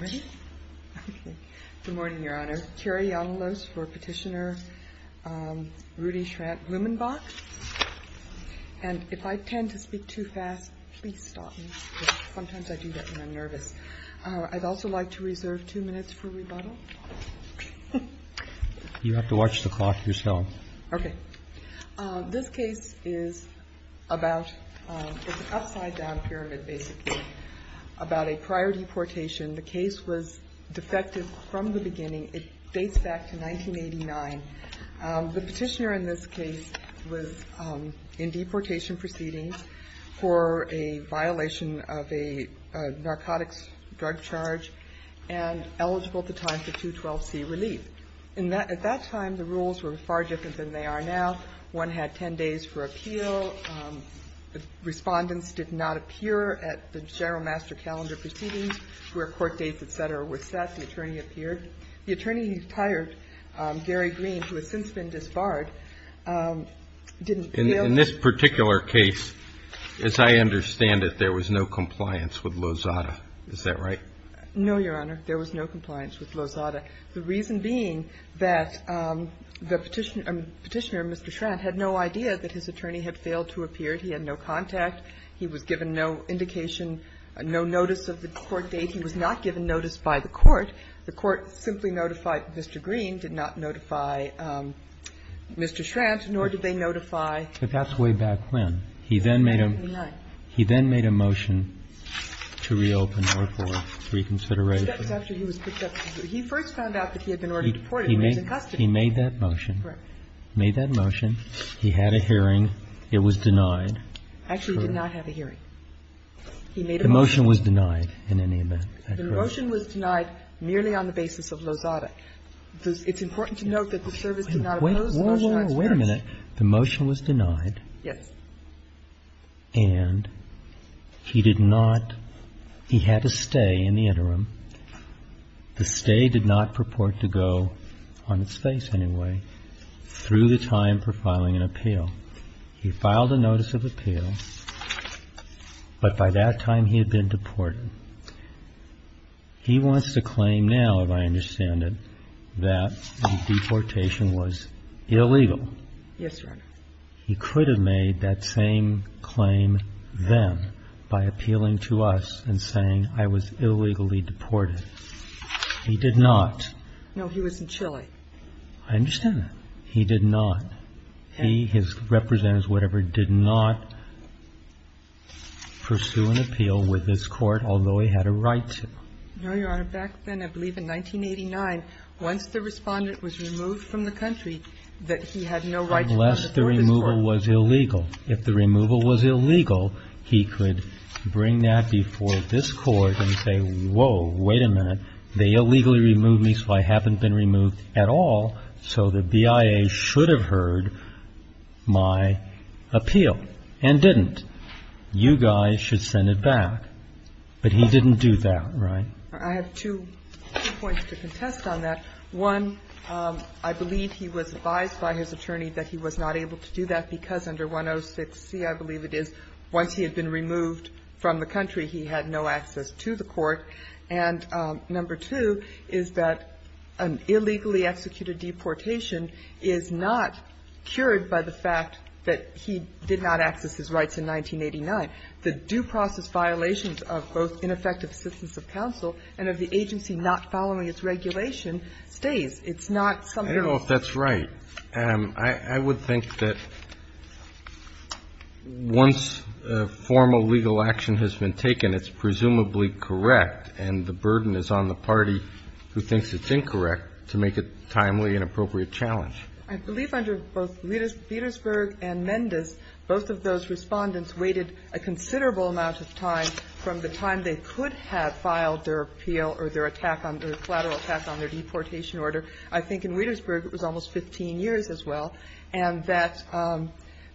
Ready? Okay. Good morning, Your Honor. Carrie Yonalos for Petitioner, Rudy Schrandt-Blumenbach. And if I tend to speak too fast, please stop me, because sometimes I do that when I'm nervous. I'd also like to reserve two minutes for rebuttal. You have to watch the clock yourself. Okay. This case is about, it's an upside-down pyramid, basically, about a prior deportation. The case was defective from the beginning. It dates back to 1989. The petitioner in this case was in deportation proceedings for a violation of a narcotics drug charge and eligible at the time for 212C relief. At that time, the rules were far different than they are now. One had 10 days for appeal. Respondents did not appear at the general master calendar proceedings where court dates, et cetera, were set. The attorney appeared. The attorney who retired, Gary Green, who has since been disbarred, didn't appear. In this particular case, as I understand it, there was no compliance with Lozada. Is that right? No, Your Honor. There was no compliance with Lozada. The reason being that the petitioner Mr. Schrant had no idea that his attorney had failed to appear. He had no contact. He was given no indication, no notice of the court date. He was not given notice by the court. The court simply notified Mr. Green, did not notify Mr. Schrant, nor did they notify the court. But that's way back when. He then made a motion to reopen or for reconsideration. That's after he was picked up. He first found out that he had been already deported and was in custody. He made that motion. He made that motion. He had a hearing. It was denied. Actually, he did not have a hearing. The motion was denied in any event. The motion was denied merely on the basis of Lozada. It's important to note that the service did not oppose Lozada's request. Wait a minute. The motion was denied. Yes. And he did not he had to stay in the interim. The stay did not purport to go, on its face anyway, through the time for filing an appeal. He filed a notice of appeal, but by that time he had been deported. He wants to claim now, if I understand it, that the deportation was illegal. Yes, Your Honor. He could have made that same claim then by appealing to us and saying I was illegally deported. He did not. No, he was in Chile. I understand that. He did not. He, his representatives, whatever, did not pursue an appeal with this court, although he had a right to. No, Your Honor. Back then, I believe in 1989, once the respondent was removed from the country, that he had no right to go before this court. Unless the removal was illegal. If the removal was illegal, he could bring that before this court and say, oh, wait a minute, they illegally removed me, so I haven't been removed at all, so the BIA should have heard my appeal and didn't. You guys should send it back. But he didn't do that, right? I have two points to contest on that. One, I believe he was advised by his attorney that he was not able to do that because under 106C, I believe it is, once he had been removed from the country, he had no access to the court. And number two is that an illegally executed deportation is not cured by the fact that he did not access his rights in 1989. The due process violations of both ineffective assistance of counsel and of the agency not following its regulation stays. It's not something else. I don't know if that's right. I would think that once formal legal action has been taken, it's presumably correct, and the burden is on the party who thinks it's incorrect to make it a timely and appropriate challenge. I believe under both Wietersburg and Mendes, both of those Respondents waited a considerable amount of time from the time they could have filed their appeal or their attack on their, collateral attack on their deportation order. I think in Wietersburg, it was almost 15 years as well, and that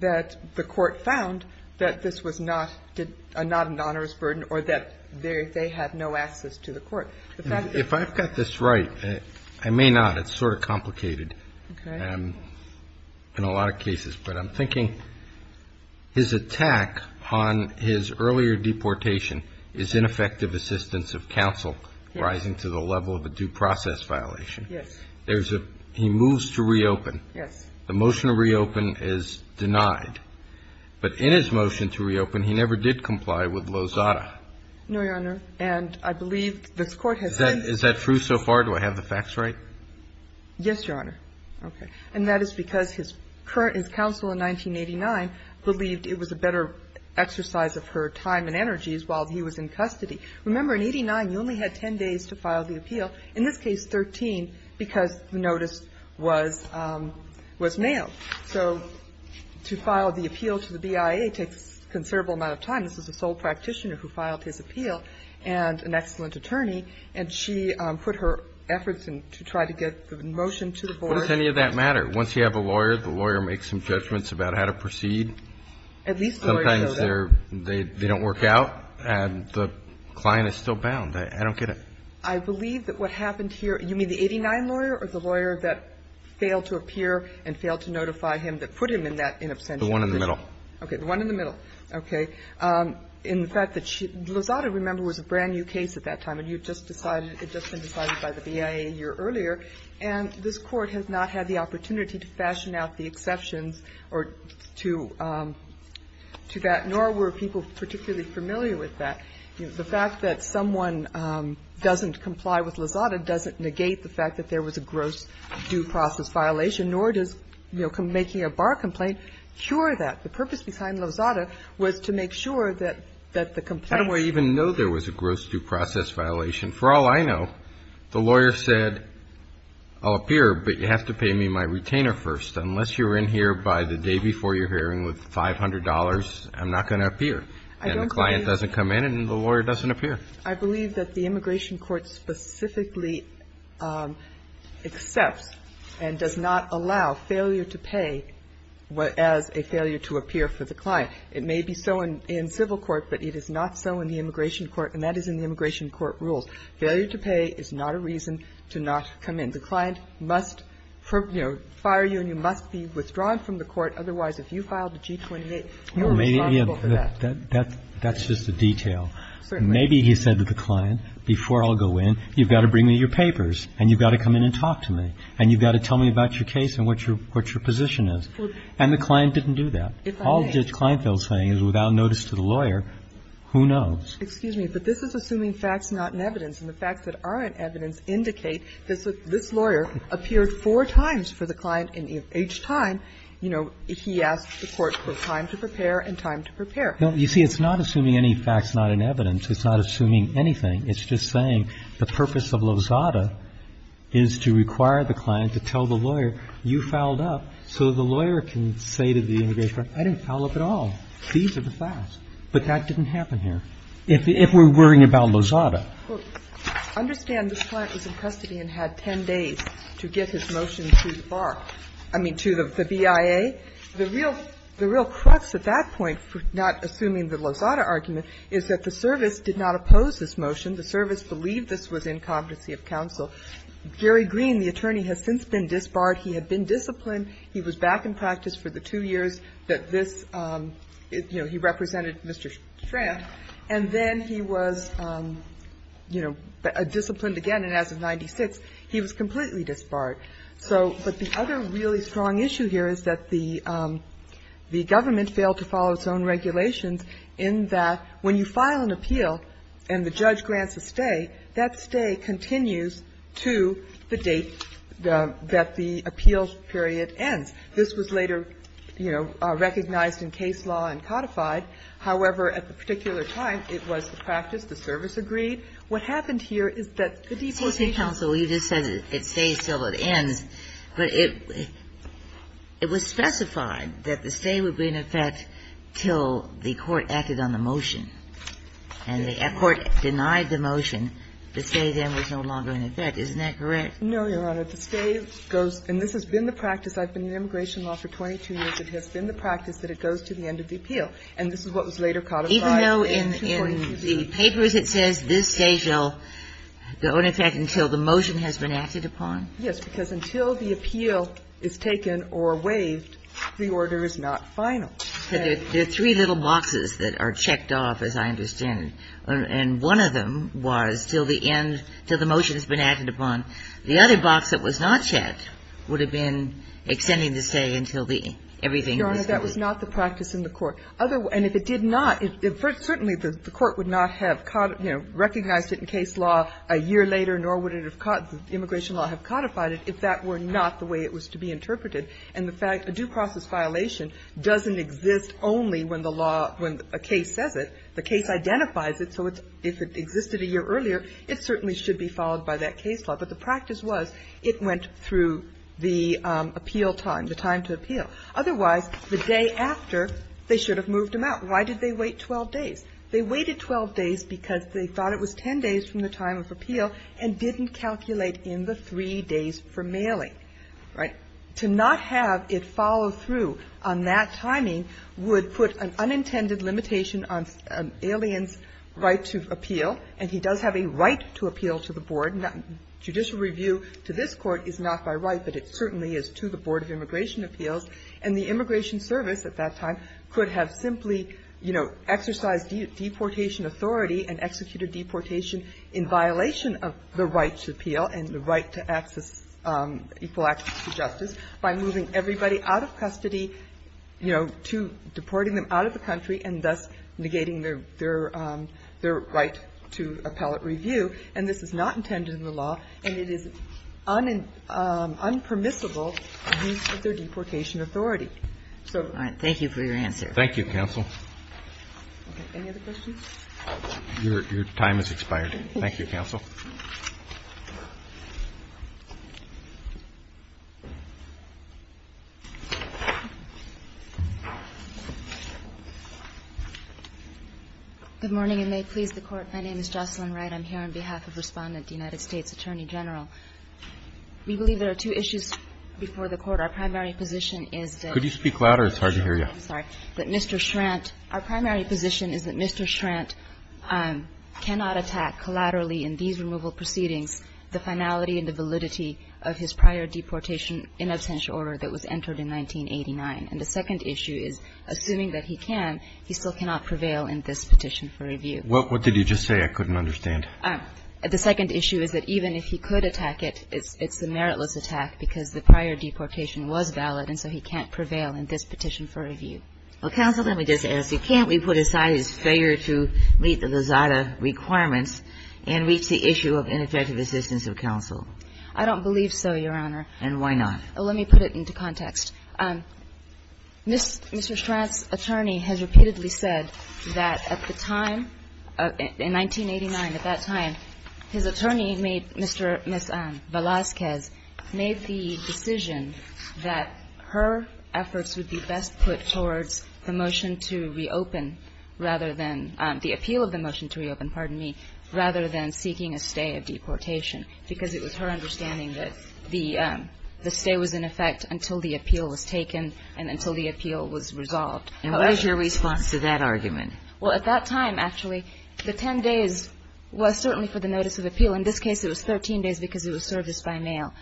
the court found that this was not an onerous burden or that they had no access to the court. If I've got this right, I may not. It's sort of complicated in a lot of cases. But I'm thinking his attack on his earlier deportation is ineffective assistance of counsel rising to the level of a due process violation. Yes. He moves to reopen. Yes. The motion to reopen is denied. But in his motion to reopen, he never did comply with Lozada. No, Your Honor. And I believe this Court has said that. Is that true so far? Do I have the facts right? Yes, Your Honor. Okay. And that is because his counsel in 1989 believed it was a better exercise of her time and energies while he was in custody. Remember, in 89, you only had 10 days to file the appeal. In this case, 13, because the notice was mailed. So to file the appeal to the BIA takes a considerable amount of time. This is a sole practitioner who filed his appeal and an excellent attorney. And she put her efforts to try to get the motion to the board. What does any of that matter? Once you have a lawyer, the lawyer makes some judgments about how to proceed. At least the lawyers know that. Sometimes they don't work out and the client is still bound. I don't get it. I believe that what happened here – you mean the 89 lawyer or the lawyer that failed to appear and failed to notify him that put him in that in absentia? The one in the middle. Okay. The one in the middle. Okay. In fact, Lozada, remember, was a brand-new case at that time, and you just decided – it had just been decided by the BIA a year earlier. And this Court has not had the opportunity to fashion out the exceptions or to that, nor were people particularly familiar with that. The fact that someone doesn't comply with Lozada doesn't negate the fact that there was a gross due process violation, nor does making a bar complaint cure that. The purpose behind Lozada was to make sure that the complaint – How do I even know there was a gross due process violation? For all I know, the lawyer said, I'll appear, but you have to pay me my retainer first. Unless you're in here by the day before your hearing with $500, I'm not going to appear. And the client doesn't come in, and the lawyer doesn't appear. I believe that the Immigration Court specifically accepts and does not allow failure to pay as a failure to appear for the client. It may be so in civil court, but it is not so in the Immigration Court, and that is in the Immigration Court rules. Failure to pay is not a reason to not come in. The client must, you know, fire you, and you must be withdrawn from the court. Otherwise, if you filed a G28, you are responsible for that. That's just a detail. Certainly. Maybe he said to the client, before I'll go in, you've got to bring me your papers, and you've got to come in and talk to me, and you've got to tell me about your case and what your position is. And the client didn't do that. If I may. All Judge Kleinfeld is saying is without notice to the lawyer, who knows? Excuse me, but this is assuming facts not in evidence, and the facts that are in evidence indicate that this lawyer appeared four times for the client, and each time, you know, he asked the court for time to prepare and time to prepare. Now, you see, it's not assuming any facts not in evidence. It's not assuming anything. It's just saying the purpose of Lozada is to require the client to tell the lawyer, you fouled up, so the lawyer can say to the Immigration Court, I didn't foul up at all. These are the facts. But that didn't happen here. If we're worrying about Lozada. Well, understand this client was in custody and had 10 days to get his motion to the BIA. The real crux at that point, not assuming the Lozada argument, is that the service did not oppose this motion. The service believed this was incompetency of counsel. Gary Green, the attorney, has since been disbarred. He had been disciplined. He was back in practice for the two years that this, you know, he represented Mr. Schramm. And then he was, you know, disciplined again, and as of 1996, he was completely disbarred. So the other really strong issue here is that the government failed to follow its own regulations in that when you file an appeal and the judge grants a stay, that stay continues to the date that the appeal period ends. This was later, you know, recognized in case law and codified. However, at the particular time, it was the practice, the service agreed. What happened here is that the deportation of the defendant was not in effect until the court acted on the motion. And the court denied the motion. The stay then was no longer in effect. Isn't that correct? No, Your Honor. The stay goes, and this has been the practice. I've been in immigration law for 22 years. It has been the practice that it goes to the end of the appeal. And this is what was later codified in 242B. Even though in the papers it says this stays until the end of the appeal. The stay shall go in effect until the motion has been acted upon? Yes, because until the appeal is taken or waived, the order is not final. There are three little boxes that are checked off, as I understand it. And one of them was till the end, till the motion has been acted upon. The other box that was not checked would have been extending the stay until the everything was done. Your Honor, that was not the practice in the court. And if it did not, certainly the court would not have, you know, recognized it in case law a year later, nor would it have, immigration law, have codified it if that were not the way it was to be interpreted. And the fact, a due process violation doesn't exist only when the law, when a case says it. The case identifies it. So if it existed a year earlier, it certainly should be followed by that case law. And if it's not, then it's not a violation. If it's not, then it's not a violation. Otherwise, the day after, they should have moved him out. Why did they wait 12 days? They waited 12 days because they thought it was 10 days from the time of appeal and didn't calculate in the three days for mailing. Right? To not have it follow through on that timing would put an unintended limitation on an alien's right to appeal. And he does have a right to appeal to the board. Judicial review to this Court is not by right, but it certainly is to the Board of Immigration Appeals. And the Immigration Service at that time could have simply, you know, exercised deportation authority and executed deportation in violation of the right to appeal and the right to access, equal access to justice by moving everybody out of custody, you know, to deporting them out of the country and thus negating their right to appellate review. And this is not intended in the law, and it is unpermissible to use their deportation authority. So the right. Thank you for your answer. Thank you, counsel. Any other questions? Your time has expired. Thank you, counsel. Good morning, and may it please the Court. My name is Jocelyn Wright. I'm here on behalf of Respondent, the United States Attorney General. We believe there are two issues before the Court. Our primary position is that Mr. Schrantt. It's hard to hear you. I'm sorry. I'm here on behalf of Respondent, the United States Attorney General. We believe there are two issues before the Court. One is the issue of previous removal proceedings, the finality and the validity of his prior deportation in absentia order that was entered in 1989. And the second issue is, assuming that he can, he still cannot prevail in this petition for review. What did you just say? I couldn't understand. The second issue is that even if he could attack it, it's a meritless attack because the prior deportation was valid, and so he can't prevail in this petition for review. Well, counsel, let me just ask you, can't we put aside his failure to meet the Lozada requirements and reach the issue of ineffective assistance of counsel? I don't believe so, Your Honor. And why not? Let me put it into context. Mr. Stratton's attorney has repeatedly said that at the time, in 1989, at that time, his attorney made, Ms. Velazquez, made the decision that her efforts would be best put towards the motion to reopen rather than, the appeal of the motion to reopen, pardon me, rather than seeking a stay of deportation, because it was her understanding that the stay was in effect until the appeal was taken and until the appeal was resolved. And what is your response to that argument? Well, at that time, actually, the 10 days was certainly for the notice of appeal. In this case, it was 13 days because it was serviced by mail.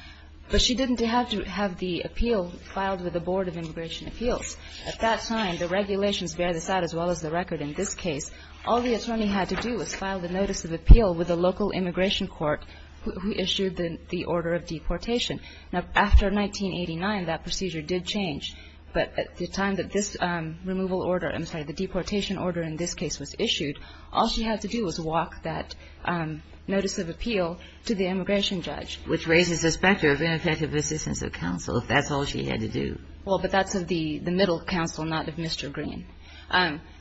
But she didn't have to have the appeal filed with the Board of Immigration Appeals. At that time, the regulations bear this out as well as the record. In this case, all the attorney had to do was file the notice of appeal with the local immigration court who issued the order of deportation. Now, after 1989, that procedure did change. But at the time that this removal order, I'm sorry, the deportation order in this case was issued, all she had to do was walk that notice of appeal to the immigration judge. Which raises the specter of ineffective assistance of counsel, if that's all she had to do. Well, but that's of the middle counsel, not of Mr. Green.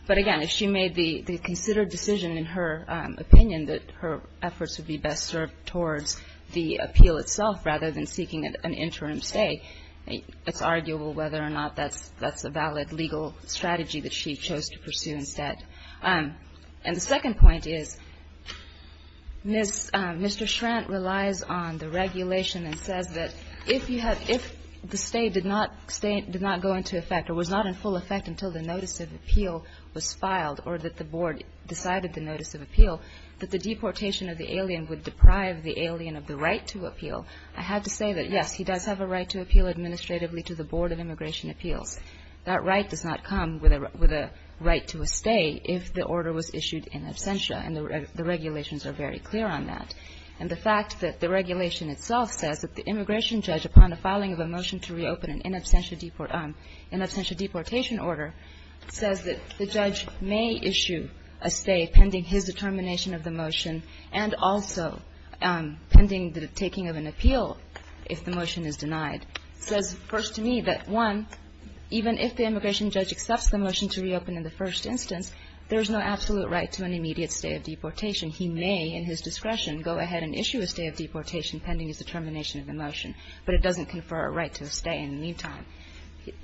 But again, if she made the considered decision in her opinion that her efforts would be best served towards the appeal itself rather than seeking an interim stay, it's arguable whether or not that's a valid legal strategy that she chose to pursue instead. And the second point is, Mr. Schrantt relies on the regulation and says that if you did not go into effect or was not in full effect until the notice of appeal was filed or that the board decided the notice of appeal, that the deportation of the alien would deprive the alien of the right to appeal. I have to say that, yes, he does have a right to appeal administratively to the Board of Immigration Appeals. That right does not come with a right to a stay if the order was issued in absentia, and the regulations are very clear on that. And the fact that the regulation itself says that the immigration judge, upon the filing of a motion to reopen an in absentia deportation order, says that the judge may issue a stay pending his determination of the motion and also pending the taking of an appeal if the motion is denied, says first to me that, one, even if the immigration judge accepts the motion to reopen in the first instance, there is no absolute right to an immediate stay of deportation. And he may, in his discretion, go ahead and issue a stay of deportation pending his determination of the motion, but it doesn't confer a right to a stay in the meantime.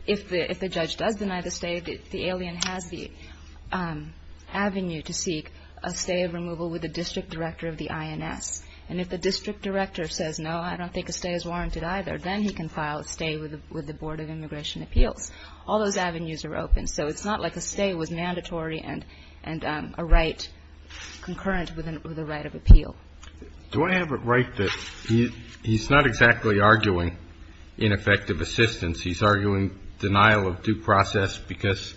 If the judge does deny the stay, the alien has the avenue to seek a stay of removal with the district director of the INS. And if the district director says, no, I don't think a stay is warranted either, then he can file a stay with the Board of Immigration Appeals. All those avenues are open. So it's not like a stay was mandatory and a right concurrent with a right of appeal. Do I have it right that he's not exactly arguing ineffective assistance? He's arguing denial of due process because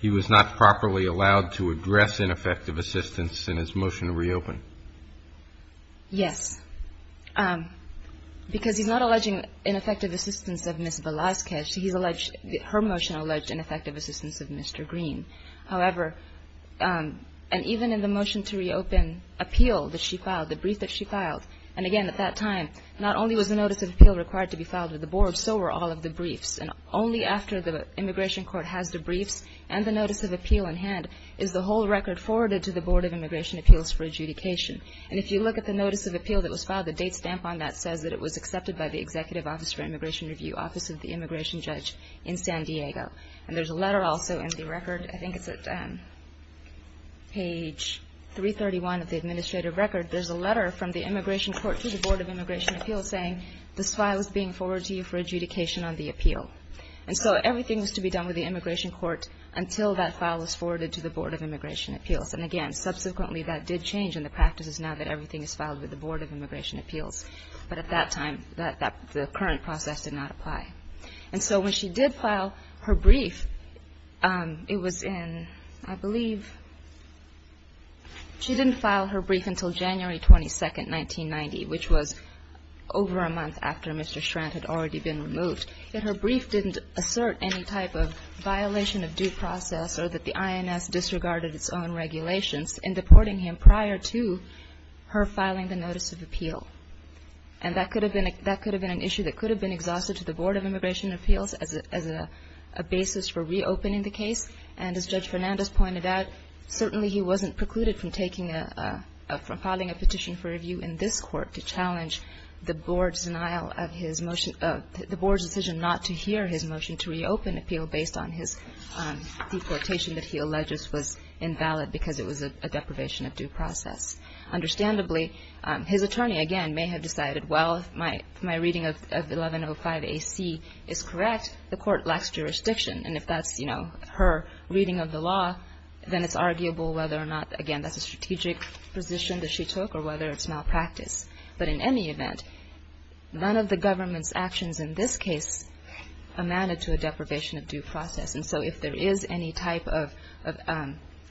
he was not properly allowed to address ineffective assistance in his motion to reopen? Yes. Because he's not alleging ineffective assistance of Ms. Velazquez. Her motion alleged ineffective assistance of Mr. Green. However, and even in the motion to reopen appeal that she filed, the brief that she filed, and, again, at that time not only was the notice of appeal required to be filed with the Board, so were all of the briefs. And only after the immigration court has the briefs and the notice of appeal in hand is the whole record forwarded to the Board of Immigration Appeals for adjudication. And if you look at the notice of appeal that was filed, the date stamp on that says that it was accepted by the Executive Office for Immigration Review, Office of the Immigration Judge in San Diego. And there's a letter also in the record. I think it's at page 331 of the administrative record. There's a letter from the immigration court to the Board of Immigration Appeals saying, this file is being forwarded to you for adjudication on the appeal. And so everything was to be done with the immigration court until that file was forwarded to the Board of Immigration Appeals. And, again, subsequently that did change in the practices now that everything is filed with the Board of Immigration Appeals. But at that time, the current process did not apply. And so when she did file her brief, it was in, I believe, she didn't file her brief until January 22nd, 1990, which was over a month after Mr. Strand had already been removed. Yet her brief didn't assert any type of violation of due process or that the INS disregarded its own regulations in deporting him prior to her filing the notice of appeal. And that could have been an issue that could have been exhausted to the Board of Immigration Appeals as a basis for reopening the case. And as Judge Fernandez pointed out, certainly he wasn't precluded from taking a, from filing a petition for review in this court to challenge the Board's denial of his motion, the Board's decision not to hear his motion to reopen appeal based on his deportation that he alleges was invalid because it was a deprivation of due process. Understandably, his attorney, again, may have decided, well, if my reading of 1105 AC is correct, the court lacks jurisdiction. And if that's, you know, her reading of the law, then it's arguable whether or not, again, that's a strategic position that she took or whether it's malpractice. But in any event, none of the government's actions in this case amounted to a deprivation of due process. And so if there is any type of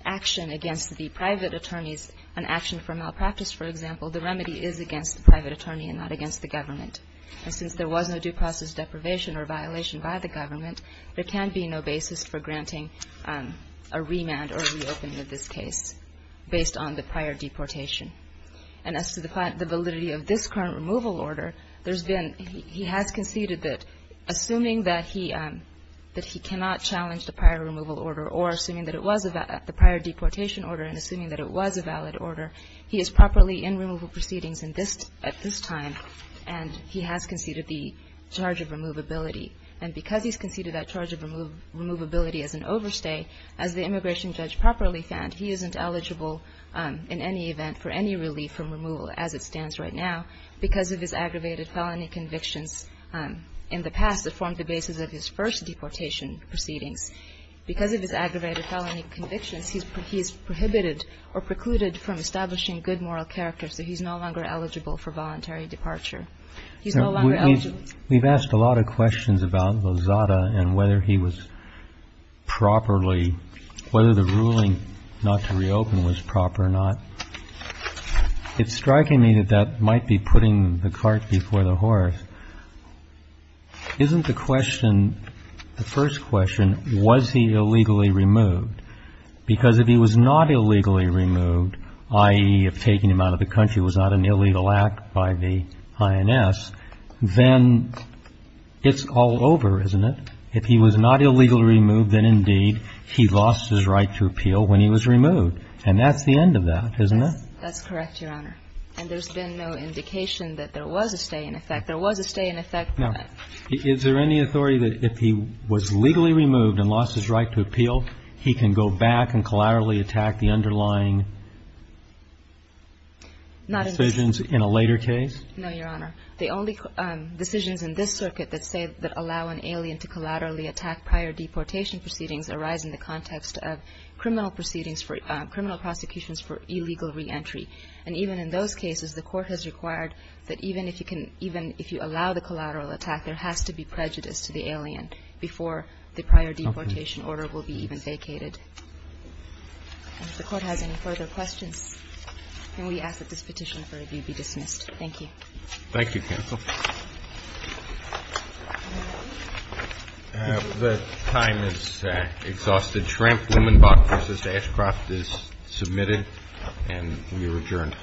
action against the private attorneys, an action for malpractice, for example, the remedy is against the private attorney and not against the government. And since there was no due process deprivation or violation by the government, there can be no basis for granting a remand or a reopening of this case based on the prior deportation. And as to the validity of this current removal order, there's been he has conceded that assuming that he cannot challenge the prior removal order or assuming that it was the prior deportation order and assuming that it was a valid order, he is properly in removal proceedings at this time and he has conceded the charge of removability. And because he's conceded that charge of removability as an overstay, as the immigration judge properly found, he isn't eligible in any event for any relief from removal as it stands right now because of his aggravated felony convictions in the past that formed the basis of his first deportation proceedings. Because of his aggravated felony convictions, he is prohibited or precluded from establishing good moral character, so he's no longer eligible for voluntary departure. He's no longer eligible. We've asked a lot of questions about Lozada and whether he was properly, whether the ruling not to reopen was proper or not. It's striking me that that might be putting the cart before the horse. Isn't the question, the first question, was he illegally removed? Because if he was not illegally removed, i.e., if taking him out of the country was not an illegal act by the INS, then it's all over, isn't it? If he was not illegally removed, then, indeed, he lost his right to appeal when he was removed. And that's the end of that, isn't it? That's correct, Your Honor. And there's been no indication that there was a stay in effect. There was a stay in effect, but. Is there any authority that if he was legally removed and lost his right to appeal, he can go back and collaterally attack the underlying decisions in a later case? No, Your Honor. The only decisions in this circuit that say that allow an alien to collaterally attack prior deportation proceedings arise in the context of criminal proceedings for criminal prosecutions for illegal reentry. And even in those cases, the Court has required that even if you can, even if you allow the collateral attack, there has to be prejudice to the alien before the prior deportation order will be even vacated. And if the Court has any further questions, can we ask that this petition for review be dismissed? Thank you. Thank you, counsel. The time is exhausted. The Tramp-Wumenbach v. Ashcroft is submitted, and we are adjourned. Thank you.